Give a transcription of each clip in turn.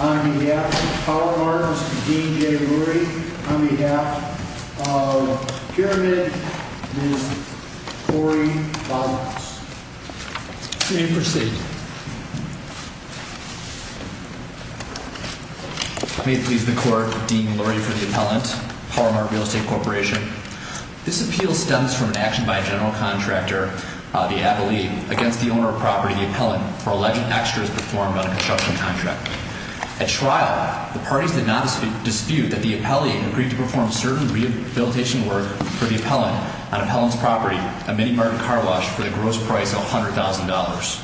On behalf of Power Mart, Mr. Dean J. Brewery, on behalf of Pyramid, Ms. Cori Ballance. May it please the Court, Dean Lurie for the Appellant, Power Mart Real Estate Corporation. This appeal stems from an action by a general contractor, the Abilene, against the owner of property, the Appellant, for alleged extras performed on a construction contract. At trial, the parties did not dispute that the Appellant agreed to perform certain rehabilitation work for the Appellant on Appellant's property, a mini-market car wash, for the gross price of $100,000.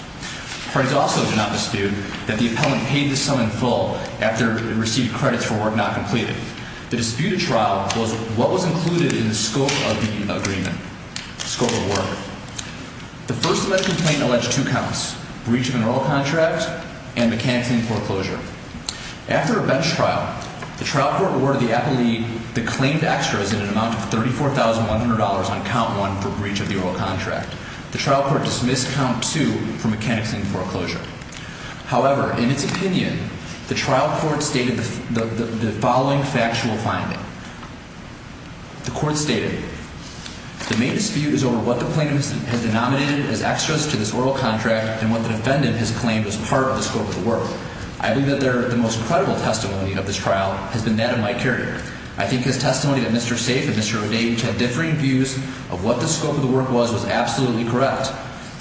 Parties also did not dispute that the Appellant paid the sum in full after it received credits for work not completed. The dispute at trial was what was included in the scope of the agreement, the scope of work. The first alleged complaint alleged two counts, breach of an oral contract and mechanics in foreclosure. After a bench trial, the trial court awarded the Appellate the claimed extras in an amount of $34,100 on count one for breach of the oral contract. The trial court dismissed count two for mechanics in foreclosure. However, in its opinion, the trial court stated the following factual finding. The court stated, The main dispute is over what the plaintiff has denominated as extras to this oral contract and what the defendant has claimed as part of the scope of the work. I believe that the most credible testimony of this trial has been that of Mike Carrier. I think his testimony that Mr. Safe and Mr. O'Day had differing views of what the scope of the work was was absolutely correct.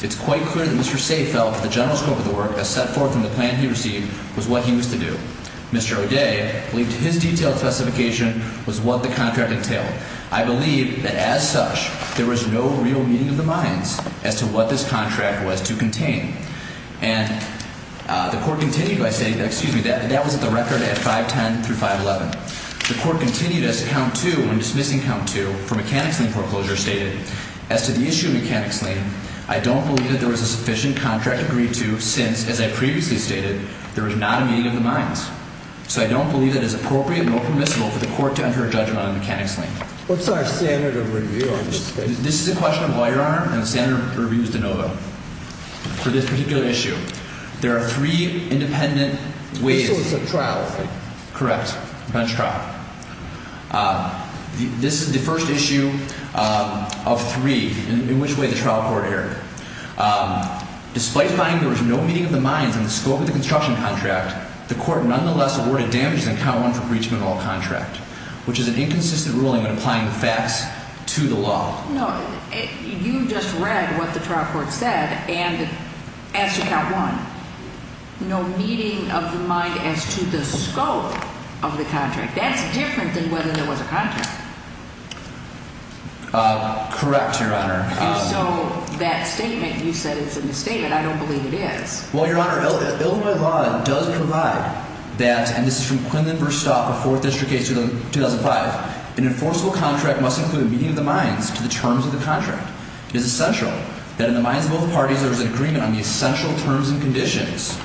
It's quite clear that Mr. Safe felt that the general scope of the work, as set forth in the plan he received, was what he was to do. Mr. O'Day believed his detailed specification was what the contract entailed. I believe that as such, there was no real meeting of the minds as to what this contract was to contain. And the court continued by stating that, excuse me, that was at the record at 510 through 511. The court continued as to count two when dismissing count two for mechanics in foreclosure stated, As to the issue of mechanics lien, I don't believe that there was a sufficient contract agreed to since, as I previously stated, there was not a meeting of the minds. So I don't believe that it is appropriate nor permissible for the court to enter a judgment on a mechanics lien. What's our standard of review on this case? This is a question of lawyer arm and the standard of review is de novo. For this particular issue, there are three independent ways. This was a trial, right? Correct. A bench trial. This is the first issue of three in which way the trial court erred. Despite finding there was no meeting of the minds in the scope of the construction contract, the court nonetheless awarded damages in count one for breach of an all contract, which is an inconsistent ruling when applying the facts to the law. No, you just read what the trial court said and as to count one, no meeting of the mind as to the scope of the contract. That's different than whether there was a contract. Correct, Your Honor. So that statement, you said it's in the statement. I don't believe it is. Well, Your Honor, Illinois law does provide that, and this is from Quinlan Verstappen, a fourth district case 2005. An enforceable contract must include a meeting of the minds to the terms of the contract. It is essential that in the minds of both parties there is an agreement on the essential terms and conditions.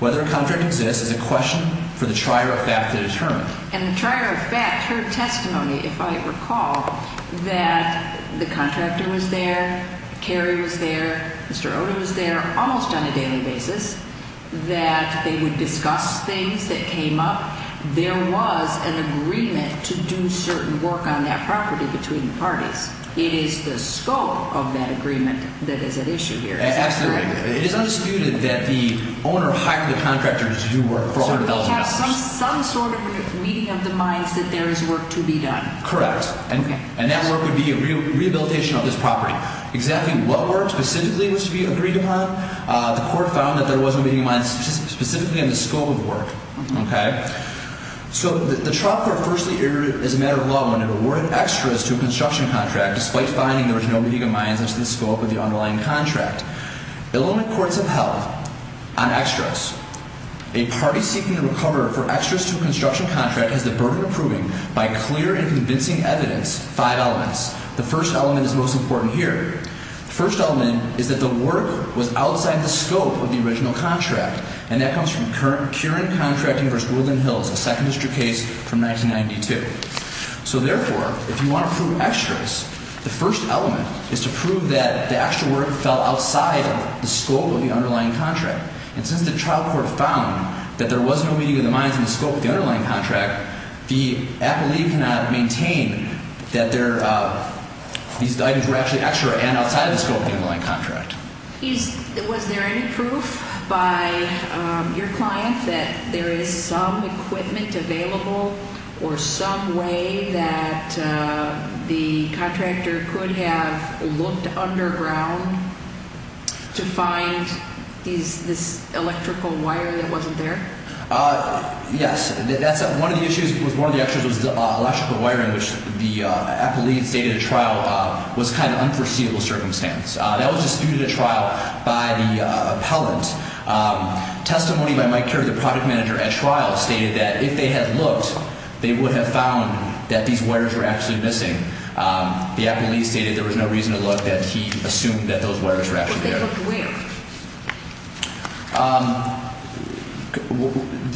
Whether a contract exists is a question for the trier of fact to determine. And the trier of fact, her testimony, if I recall, that the contractor was there, Carrie was there, Mr. Oda was there almost on a daily basis, that they would discuss things that came up. There was an agreement to do certain work on that property between the parties. It is the scope of that agreement that is at issue here. Absolutely. It is undisputed that the owner hired the contractor to do work for $100,000. So we have some sort of meeting of the minds that there is work to be done. Correct. And that work would be a rehabilitation of this property. Exactly what work specifically was to be agreed upon, the court found that there was a meeting of the minds specifically in the scope of work. Okay. So the trot court firstly erred as a matter of law when it awarded extras to a construction contract despite finding there was no meeting of minds in the scope of the underlying contract. Element courts have held on extras. A party seeking to recover for extras to a construction contract has the burden of proving by clear and convincing evidence five elements. The first element is most important here. The first element is that the work was outside the scope of the original contract. And that comes from Curran Contracting v. Woodland Hills, a second district case from 1992. So, therefore, if you want to prove extras, the first element is to prove that the extra work fell outside the scope of the underlying contract. And since the trot court found that there was no meeting of the minds in the scope of the underlying contract, the appellee cannot maintain that these items were actually extra and outside the scope of the underlying contract. Was there any proof by your client that there is some equipment available or some way that the contractor could have looked underground to find this electrical wire that wasn't there? Yes. One of the issues with one of the extras was electrical wiring, which the appellee stated at trial was kind of an unforeseeable circumstance. That was disputed at trial by the appellant. Testimony by Mike Curran, the project manager at trial, stated that if they had looked, they would have found that these wires were actually missing. The appellee stated there was no reason to look, that he assumed that those wires were actually there. But they looked where?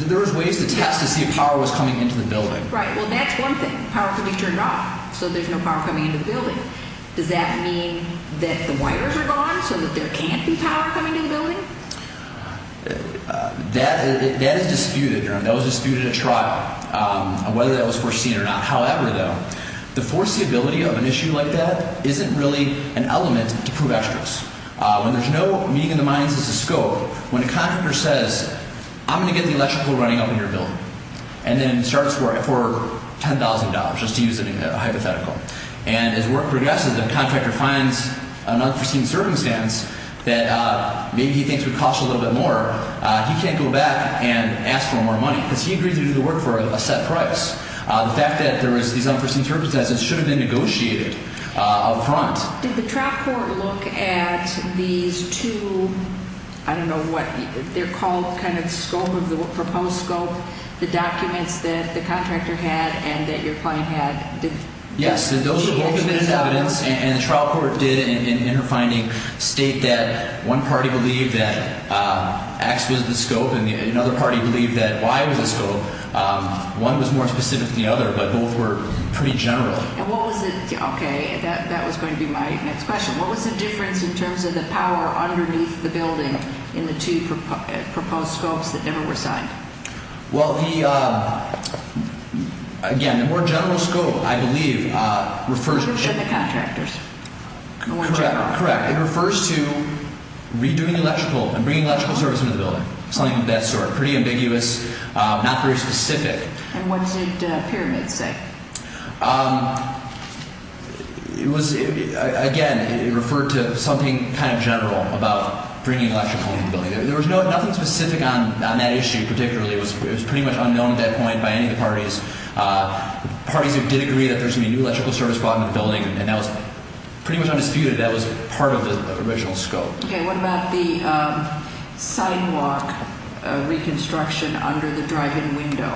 There was ways to test to see if power was coming into the building. Right. Well, that's one thing. Does that mean that the wires are gone so that there can't be power coming to the building? That is disputed. That was disputed at trial, whether that was foreseen or not. However, though, the foreseeability of an issue like that isn't really an element to prove extras. When there's no meeting of the minds as a scope, when a contractor says, I'm going to get the electrical running up in your building, and then starts for $10,000, just to use a hypothetical, and as work progresses, the contractor finds an unforeseen circumstance that maybe he thinks would cost a little bit more, he can't go back and ask for more money. Because he agreed to do the work for a set price. The fact that there was these unforeseen circumstances should have been negotiated up front. Did the track court look at these two, I don't know what, they're called kind of scope, proposed scope, the documents that the contractor had and that your client had? Yes, those were both evidence, and the trial court did in her finding state that one party believed that X was the scope and another party believed that Y was the scope. One was more specific than the other, but both were pretty general. And what was the, okay, that was going to be my next question. What was the difference in terms of the power underneath the building in the two proposed scopes that never were signed? Well, the, again, the more general scope, I believe, refers to the contractors. Correct. It refers to redoing electrical and bringing electrical service into the building, something of that sort, pretty ambiguous, not very specific. And what did Pyramid say? It was, again, it referred to something kind of general about bringing electrical into the building. There was nothing specific on that issue particularly. It was pretty much unknown at that point by any of the parties. Parties did agree that there was going to be new electrical service brought into the building, and that was pretty much undisputed. That was part of the original scope. Okay. What about the sidewalk reconstruction under the drive-in window?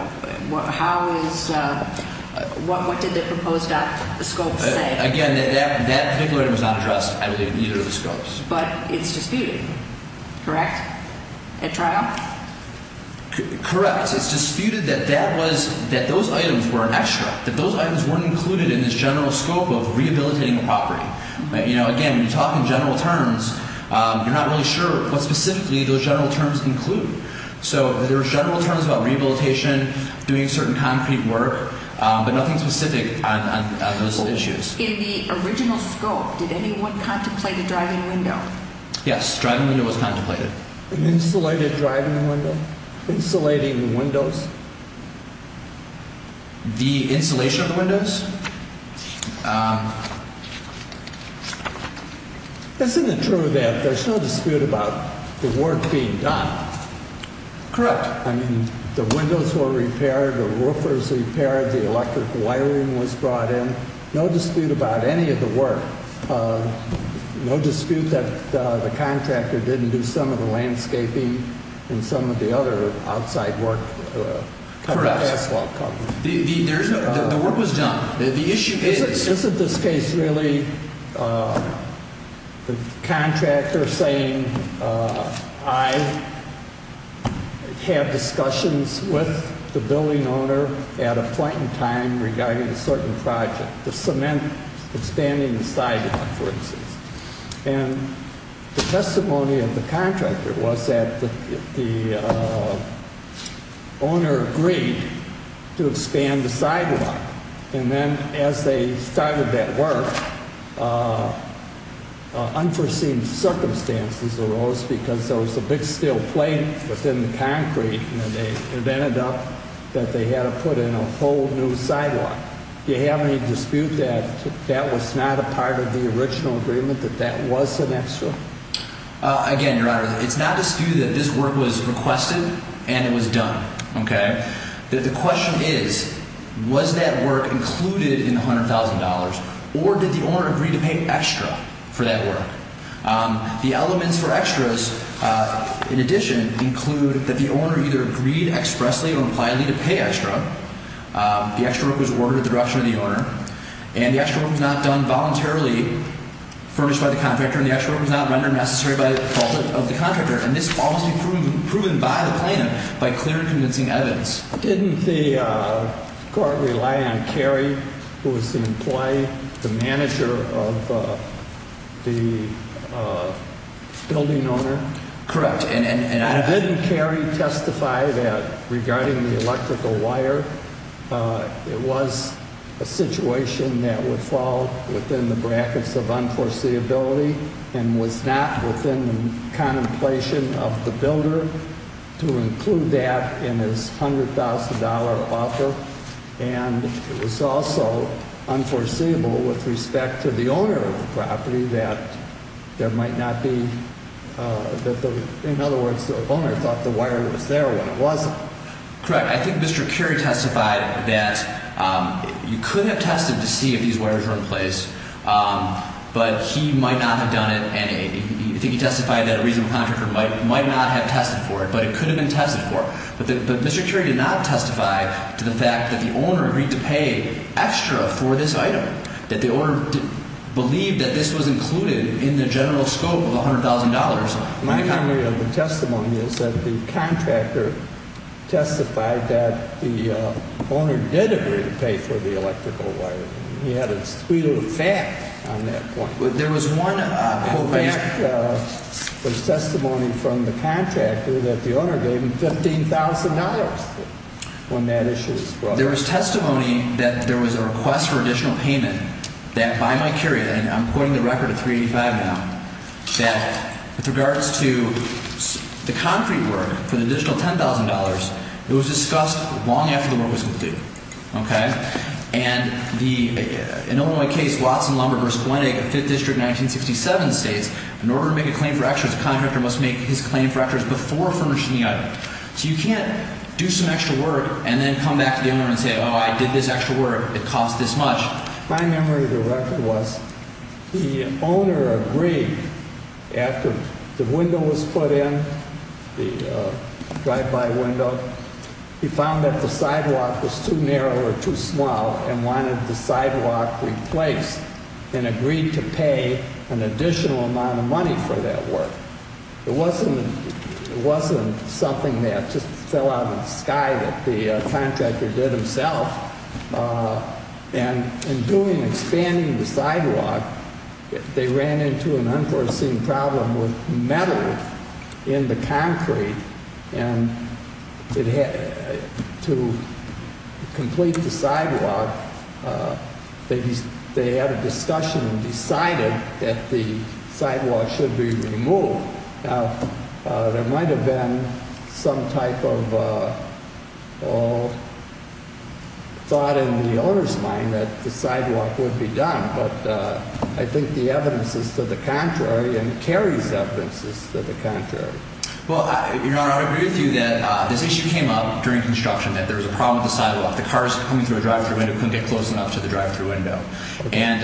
How is, what did the proposed scope say? Again, that particular item was not addressed, I believe, in either of the scopes. But it's disputed, correct, at trial? Correct. It's disputed that that was, that those items were an extra, that those items weren't included in this general scope of rehabilitating the property. You know, again, when you're talking general terms, you're not really sure what specifically those general terms include. So there were general terms about rehabilitation, doing certain concrete work, but nothing specific on those issues. In the original scope, did anyone contemplate a drive-in window? Yes, drive-in window was contemplated. An insulated drive-in window? Insulating windows? The insulation of the windows? Isn't it true that there's no dispute about the work being done? Correct. I mean, the windows were repaired, the roofers repaired, the electric wiring was brought in. No dispute about any of the work. No dispute that the contractor didn't do some of the landscaping and some of the other outside work. Correct. The work was done. Isn't this case really the contractor saying, I had discussions with the building owner at a point in time regarding a certain project, the cement, expanding the sidewalk, for instance. And the testimony of the contractor was that the owner agreed to expand the sidewalk. And then as they started that work, unforeseen circumstances arose because there was a big steel plate within the concrete, and it ended up that they had to put in a whole new sidewalk. Do you have any dispute that that was not a part of the original agreement, that that was an extra? Again, Your Honor, it's not a dispute that this work was requested and it was done. Okay? The question is, was that work included in the $100,000 or did the owner agree to pay extra for that work? The elements for extras, in addition, include that the owner either agreed expressly or impliedly to pay extra. The extra work was ordered at the direction of the owner. And the extra work was not done voluntarily, furnished by the contractor. And the extra work was not rendered necessary by the fault of the contractor. And this all must be proven by the plan, by clear and convincing evidence. Didn't the court rely on Carey, who was the employee, the manager of the building owner? Correct. Didn't Carey testify that, regarding the electrical wire, it was a situation that would fall within the brackets of unforeseeability and was not within the contemplation of the builder to include that in his $100,000 offer? And it was also unforeseeable with respect to the owner of the property that there might not be, in other words, the owner thought the wire was there when it wasn't. Correct. I think Mr. Carey testified that you could have tested to see if these wires were in place, but he might not have done it. And I think he testified that a reasonable contractor might not have tested for it, but it could have been tested for. But Mr. Carey did not testify to the fact that the owner agreed to pay extra for this item, that the owner believed that this was included in the general scope of $100,000. My memory of the testimony is that the contractor testified that the owner did agree to pay for the electrical wire. He had a tweet of a fact on that point. There was testimony from the contractor that the owner gave him $15,000 when that issue was brought up. There was testimony that there was a request for additional payment that by my period, and I'm quoting the record at 385 now, that with regards to the concrete work for the additional $10,000, it was discussed long after the work was completed. Okay? And in Illinois case Watson-Lumber versus Gwinnett, 5th District, 1967 states, in order to make a claim for extras, the contractor must make his claim for extras before furnishing the item. So you can't do some extra work and then come back to the owner and say, oh, I did this extra work. It cost this much. My memory of the record was the owner agreed after the window was put in, the drive-by window. He found that the sidewalk was too narrow or too small and wanted the sidewalk replaced and agreed to pay an additional amount of money for that work. It wasn't something that just fell out of the sky that the contractor did himself. And in doing, expanding the sidewalk, they ran into an unforeseen problem with metal in the concrete. And to complete the sidewalk, they had a discussion and decided that the sidewalk should be removed. Now, there might have been some type of thought in the owner's mind that the sidewalk would be done, but I think the evidence is to the contrary and Carrie's evidence is to the contrary. Well, Your Honor, I would agree with you that this issue came up during construction, that there was a problem with the sidewalk. The cars coming through a drive-thru window couldn't get close enough to the drive-thru window. And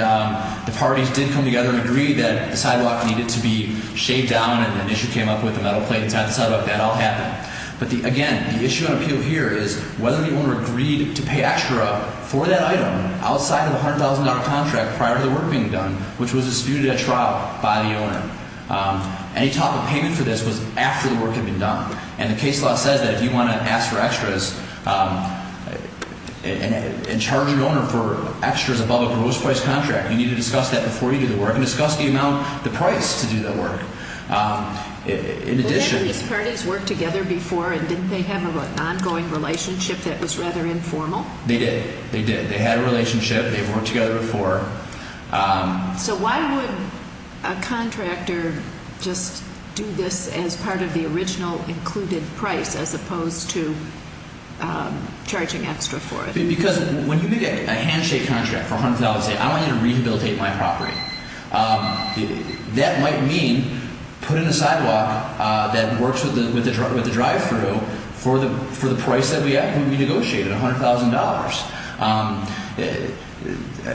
the parties did come together and agreed that the sidewalk needed to be shaved down and an issue came up with the metal plate inside the sidewalk. That all happened. But, again, the issue and appeal here is whether the owner agreed to pay extra for that item outside of the $100,000 contract prior to the work being done, which was disputed at trial by the owner. Any type of payment for this was after the work had been done. And the case law says that if you want to ask for extras and charge your owner for extras above a gross price contract, you need to discuss that before you do the work and discuss the amount, the price to do the work. In addition... Didn't these parties work together before and didn't they have an ongoing relationship that was rather informal? They did. They did. They had a relationship. They had worked together before. So why would a contractor just do this as part of the original included price as opposed to charging extra for it? Because when you make a handshake contract for $100,000 and say, I want you to rehabilitate my property, that might mean putting a sidewalk that works with the drive-thru for the price that we negotiated, $100,000.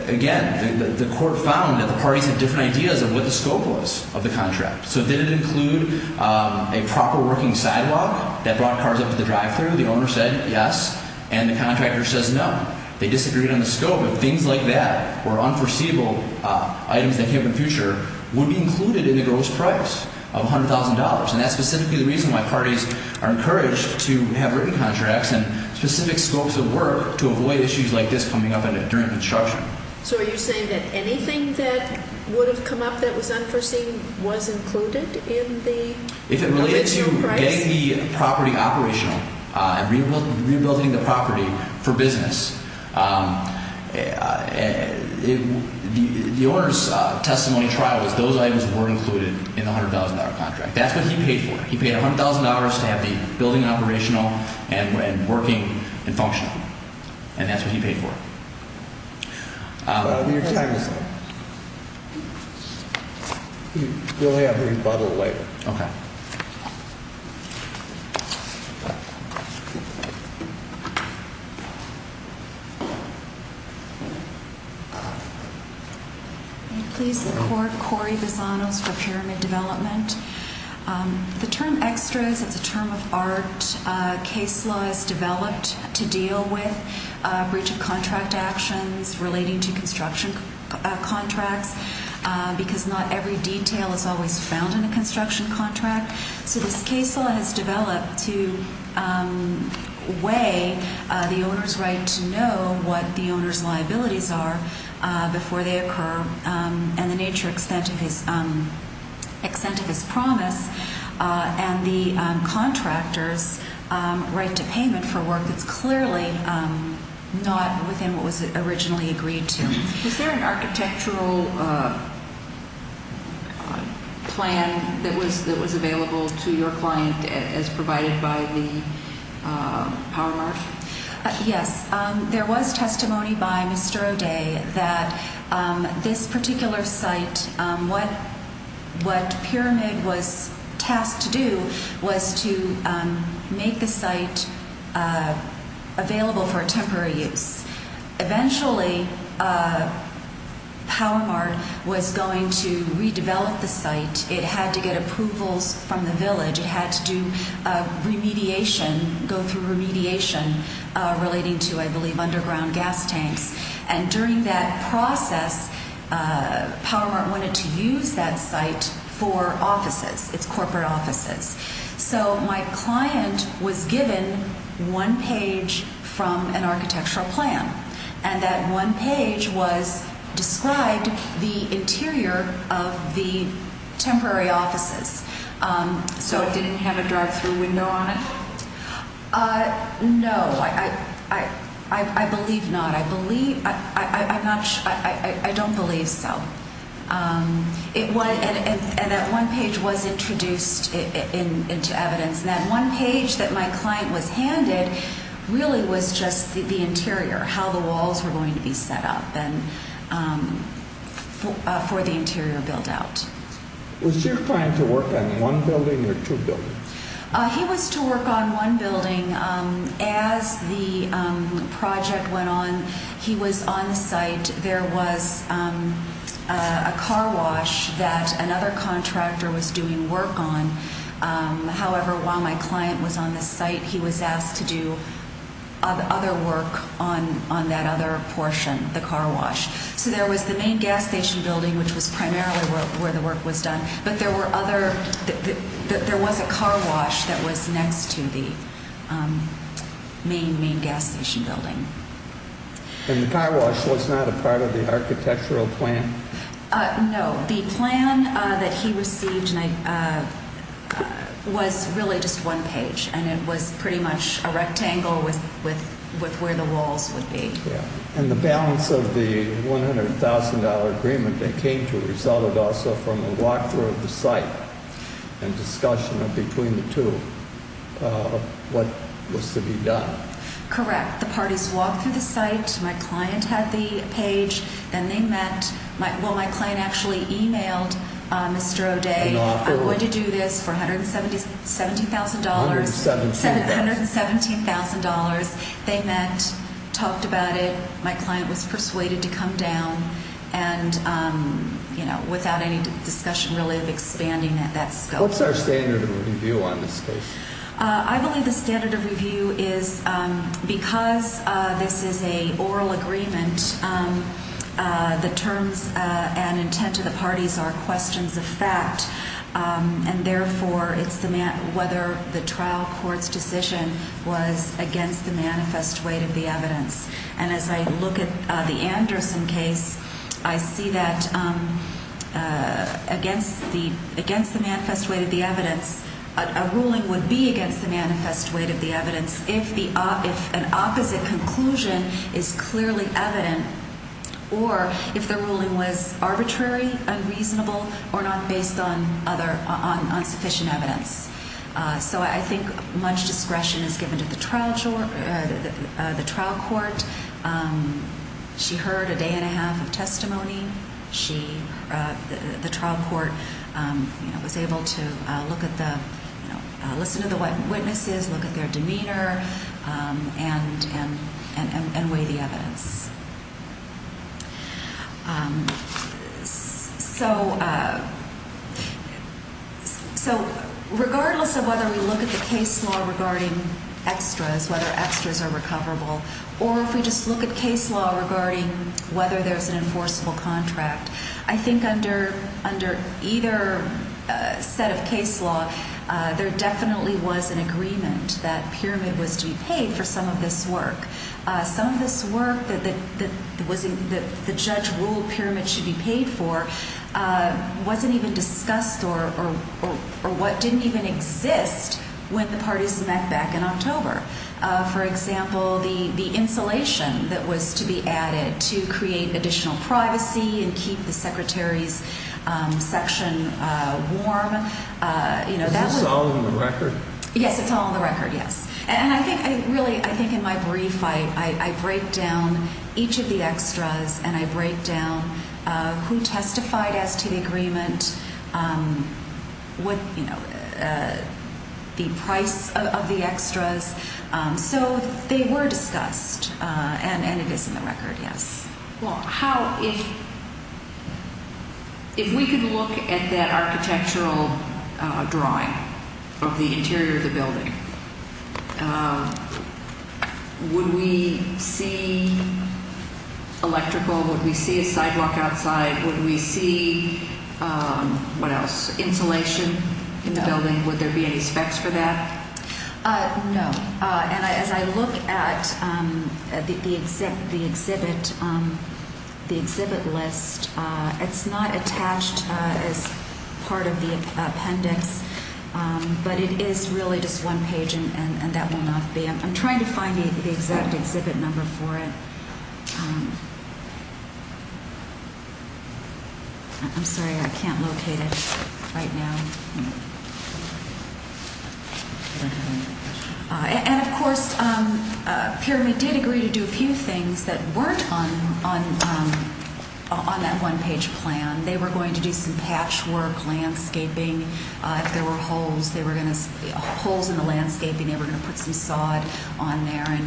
Again, the court found that the parties had different ideas of what the scope was of the contract. So did it include a proper working sidewalk that brought cars up to the drive-thru? The owner said yes. And the contractor says no. They disagreed on the scope. But things like that were unforeseeable items that came up in the future would be included in the gross price of $100,000. And that's specifically the reason why parties are encouraged to have written contracts and specific scopes of work to avoid issues like this coming up during construction. So are you saying that anything that would have come up that was unforeseen was included in the original price? If it related to getting the property operational and rehabilitating the property for business, the owner's testimony trial was those items were included in the $100,000 contract. That's what he paid for. He paid $100,000 to have the building operational and working and functional. And that's what he paid for. Your time is up. We'll have a rebuttal later. Okay. Thank you. Can you please support Corey Vazanos for pyramid development? The term extras is a term of art. Case law is developed to deal with breach of contract actions relating to construction contracts because not every detail is always found in a construction contract. So this case law has developed to weigh the owner's right to know what the owner's liabilities are before they occur and the nature, extent of his promise, and the contractor's right to payment for work that's clearly not within what was originally agreed to. Was there an architectural plan that was available to your client as provided by the Powermark? Yes. There was testimony by Mr. O'Day that this particular site, what Pyramid was tasked to do was to make the site available for temporary use. Eventually, Powermark was going to redevelop the site. It had to get approvals from the village. It had to do remediation, go through remediation relating to, I believe, underground gas tanks. And during that process, Powermark wanted to use that site for offices, its corporate offices. So my client was given one page from an architectural plan, and that one page was described the interior of the temporary offices. So it didn't have a drive-through window on it? No. I believe not. I don't believe so. And that one page was introduced into evidence, and that one page that my client was handed really was just the interior, how the walls were going to be set up for the interior build-out. Was your client to work on one building or two buildings? As the project went on, he was on site. There was a car wash that another contractor was doing work on. However, while my client was on the site, he was asked to do other work on that other portion, the car wash. So there was the main gas station building, which was primarily where the work was done, but there was a car wash that was next to the main, main gas station building. And the car wash was not a part of the architectural plan? No. The plan that he received was really just one page, and it was pretty much a rectangle with where the walls would be. And the balance of the $100,000 agreement that came to result also from a walk-through of the site and discussion between the two, what was to be done? Correct. The parties walked through the site, my client had the page, then they met. Well, my client actually emailed Mr. O'Day, I'm going to do this for $117,000. $117,000. $117,000. They met, talked about it, my client was persuaded to come down, and without any discussion really of expanding that scope. What's our standard of review on this case? I believe the standard of review is because this is an oral agreement, the terms and intent of the parties are questions of fact, and therefore it's whether the trial court's decision was against the manifest weight of the evidence. And as I look at the Anderson case, I see that against the manifest weight of the evidence, a ruling would be against the manifest weight of the evidence if an opposite conclusion is clearly evident, or if the ruling was arbitrary, unreasonable, or not based on sufficient evidence. So I think much discretion is given to the trial court. She heard a day and a half of testimony. The trial court was able to listen to the witnesses, look at their demeanor, and weigh the evidence. So regardless of whether we look at the case law regarding extras, whether extras are recoverable, or if we just look at case law regarding whether there's an enforceable contract, I think under either set of case law, there definitely was an agreement that Pyramid was to be paid for some of this work. Some of this work that the judge ruled Pyramid should be paid for wasn't even discussed or what didn't even exist when the parties met back in October. For example, the insulation that was to be added to create additional privacy and keep the Secretary's section warm. Is this all on the record? Yes, it's all on the record, yes. And I think in my brief, I break down each of the extras, and I break down who testified as to the agreement, the price of the extras. So they were discussed, and it is in the record, yes. Well, if we could look at that architectural drawing of the interior of the building, would we see electrical? Would we see a sidewalk outside? Would we see, what else, insulation in the building? Would there be any specs for that? No, and as I look at the exhibit list, it's not attached as part of the appendix, but it is really just one page, and that will not be. I'm trying to find the exact exhibit number for it. I'm sorry, I can't locate it right now. And of course, Pyramid did agree to do a few things that weren't on that one-page plan. They were going to do some patchwork landscaping. If there were holes in the landscaping, they were going to put some sod on there.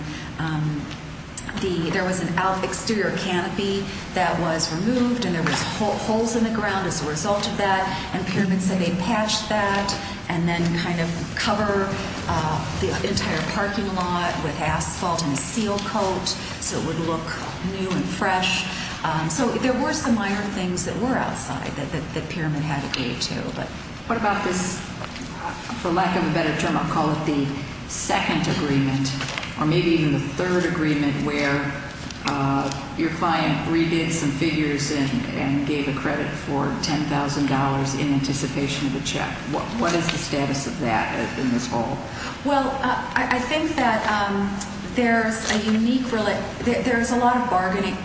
There was an exterior canopy that was removed, and there were holes in the ground as a result of that. And Pyramid said they'd patch that and then kind of cover the entire parking lot with asphalt and a seal coat so it would look new and fresh. So there were some minor things that were outside that Pyramid had to agree to. What about this, for lack of a better term, I'll call it the second agreement, or maybe even the third agreement, where your client redid some figures and gave a credit for $10,000 in anticipation of the check? What is the status of that in this whole? Well, I think that there's a unique – there's a lot of bargaining.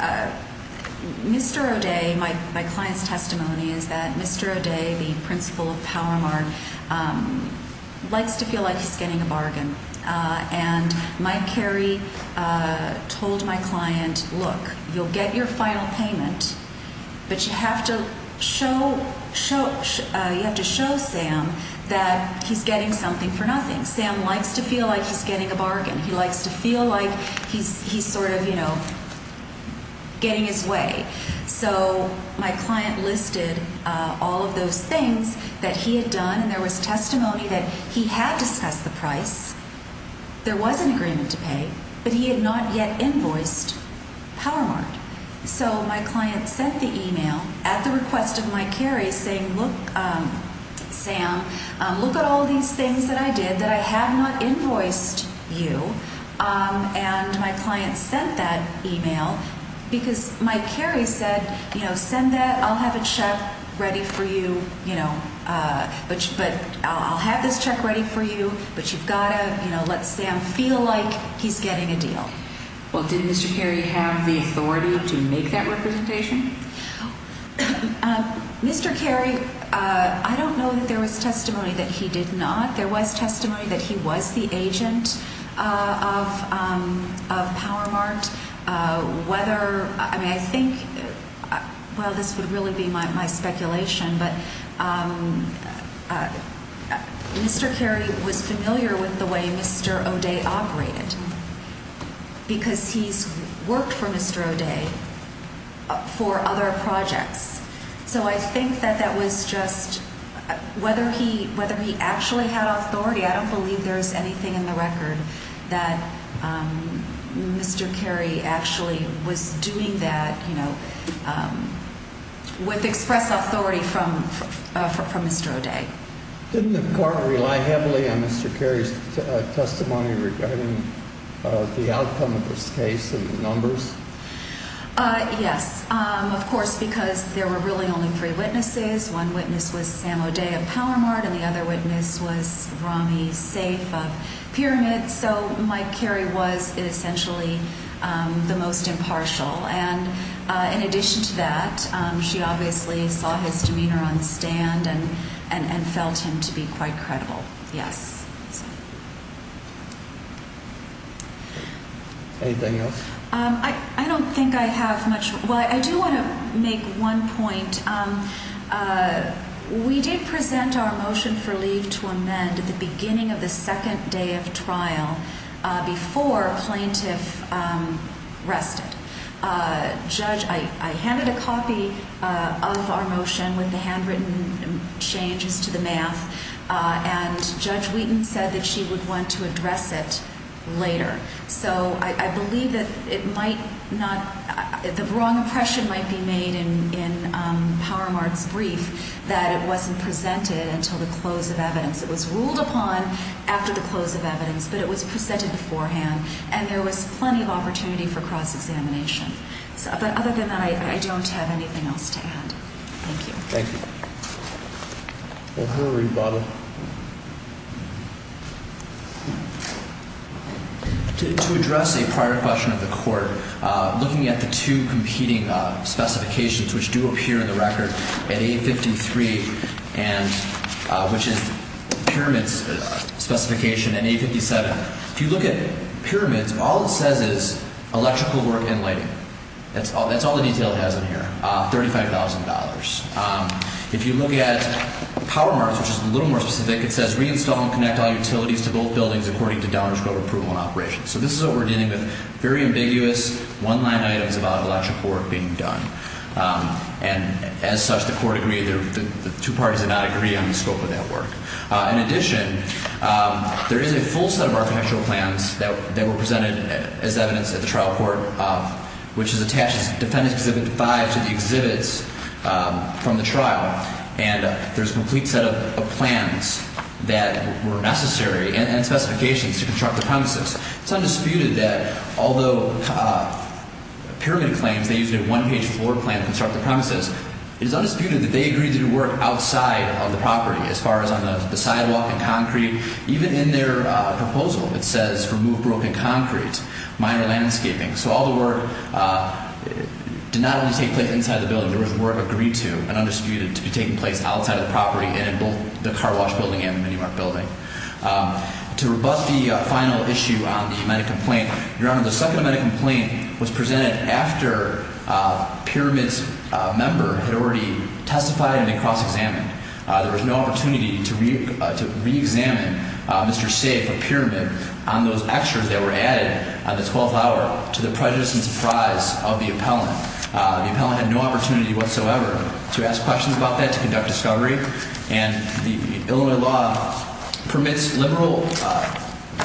Mr. O'Day, my client's testimony is that Mr. O'Day, the principal of Power Mart, likes to feel like he's getting a bargain. And Mike Carey told my client, look, you'll get your final payment, but you have to show Sam that he's getting something for nothing. Sam likes to feel like he's getting a bargain. He likes to feel like he's sort of, you know, getting his way. So my client listed all of those things that he had done, and there was testimony that he had discussed the price, there was an agreement to pay, but he had not yet invoiced Power Mart. So my client sent the email at the request of Mike Carey saying, look, Sam, look at all these things that I did that I have not invoiced you. And my client sent that email because Mike Carey said, you know, send that, I'll have a check ready for you, you know, but I'll have this check ready for you, but you've got to, you know, let Sam feel like he's getting a deal. Well, did Mr. Carey have the authority to make that representation? Mr. Carey, I don't know that there was testimony that he did not. There was testimony that he was the agent of Power Mart. I mean, I think, well, this would really be my speculation, but Mr. Carey was familiar with the way Mr. O'Day operated because he's worked for Mr. O'Day for other projects. So I think that that was just, whether he actually had authority, I don't believe there's anything in the record that Mr. Carey actually was doing that, you know, with express authority from Mr. O'Day. Didn't the court rely heavily on Mr. Carey's testimony regarding the outcome of this case and the numbers? Yes, of course, because there were really only three witnesses. One witness was Sam O'Day of Power Mart and the other witness was Rami Saif of Pyramid. So Mike Carey was essentially the most impartial. And in addition to that, she obviously saw his demeanor on the stand and felt him to be quite credible. Yes. Anything else? I don't think I have much. Well, I do want to make one point. We did present our motion for leave to amend at the beginning of the second day of trial before plaintiff rested. Judge, I handed a copy of our motion with the handwritten changes to the math, and Judge Wheaton said that she would want to address it later. So I believe that it might not – the wrong impression might be made in Power Mart's brief that it wasn't presented until the close of evidence. It was ruled upon after the close of evidence, but it was presented beforehand, and there was plenty of opportunity for cross-examination. But other than that, I don't have anything else to add. Thank you. Thank you. We'll hurry, Bob. To address a prior question of the court, looking at the two competing specifications, which do appear in the record, and A53, which is Pyramid's specification, and A57, if you look at Pyramid's, all it says is electrical work and lighting. That's all the detail it has in here, $35,000. If you look at Power Mart's, which is a little more specific, it says reinstall and connect all utilities to both buildings according to Downer's code of approval and operation. So this is what we're dealing with, very ambiguous, one-line items about electrical work being done. And as such, the court agreed – the two parties did not agree on the scope of that work. In addition, there is a full set of architectural plans that were presented as evidence at the trial court, which is attached as Defendant Exhibit 5 to the exhibits from the trial. And there's a complete set of plans that were necessary and specifications to construct the premises. It's undisputed that although Pyramid claims they used a one-page floor plan to construct the premises, it is undisputed that they agreed to do work outside of the property as far as on the sidewalk and concrete. Even in their proposal, it says remove broken concrete, minor landscaping. So all the work did not only take place inside the building. There was work agreed to and undisputed to be taking place outside of the property and in both the Car Wash building and the Mini Mart building. To rebut the final issue on the medical complaint, Your Honor, the second medical complaint was presented after Pyramid's member had already testified and been cross-examined. There was no opportunity to reexamine Mr. Safe or Pyramid on those extras that were added on the 12th hour to the prejudice and surprise of the appellant. The appellant had no opportunity whatsoever to ask questions about that, to conduct discovery. And the Illinois law permits liberal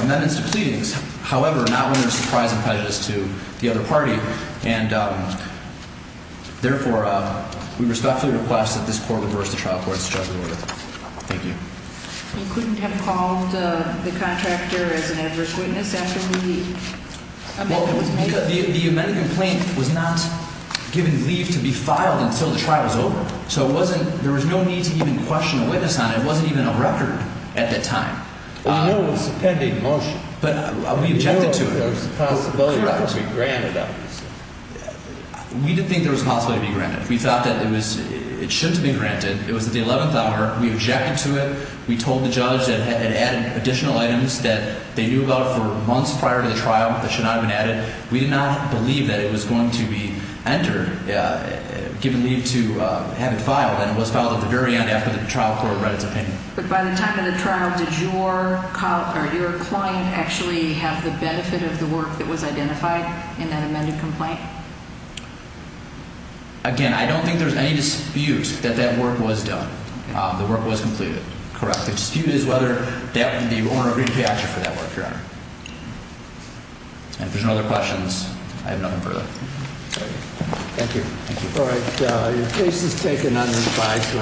amendments to pleadings, however, not when there's surprise and prejudice to the other party. And therefore, we respectfully request that this court reverse the trial court's judgment order. Thank you. You couldn't have called the contractor as an adverse witness after the medical complaint? The medical complaint was not given leave to be filed until the trial was over. So it wasn't – there was no need to even question a witness on it. It wasn't even a record at that time. We know it was a pending motion. But we objected to it. We didn't think there was a possibility to be granted. We thought that it was – it should be granted. It was at the 11th hour. We objected to it. We told the judge that it added additional items that they knew about for months prior to the trial that should not have been added. We did not believe that it was going to be entered, given leave to have it filed. And it was filed at the very end after the trial court read its opinion. But by the time of the trial, did your client actually have the benefit of the work that was identified in that amended complaint? Again, I don't think there's any dispute that that work was done. The work was completed. Correct. The dispute is whether the owner agreed to pay action for that work, Your Honor. And if there's no other questions, I have nothing further. Thank you. Thank you. All right. The case is taken under 5-0.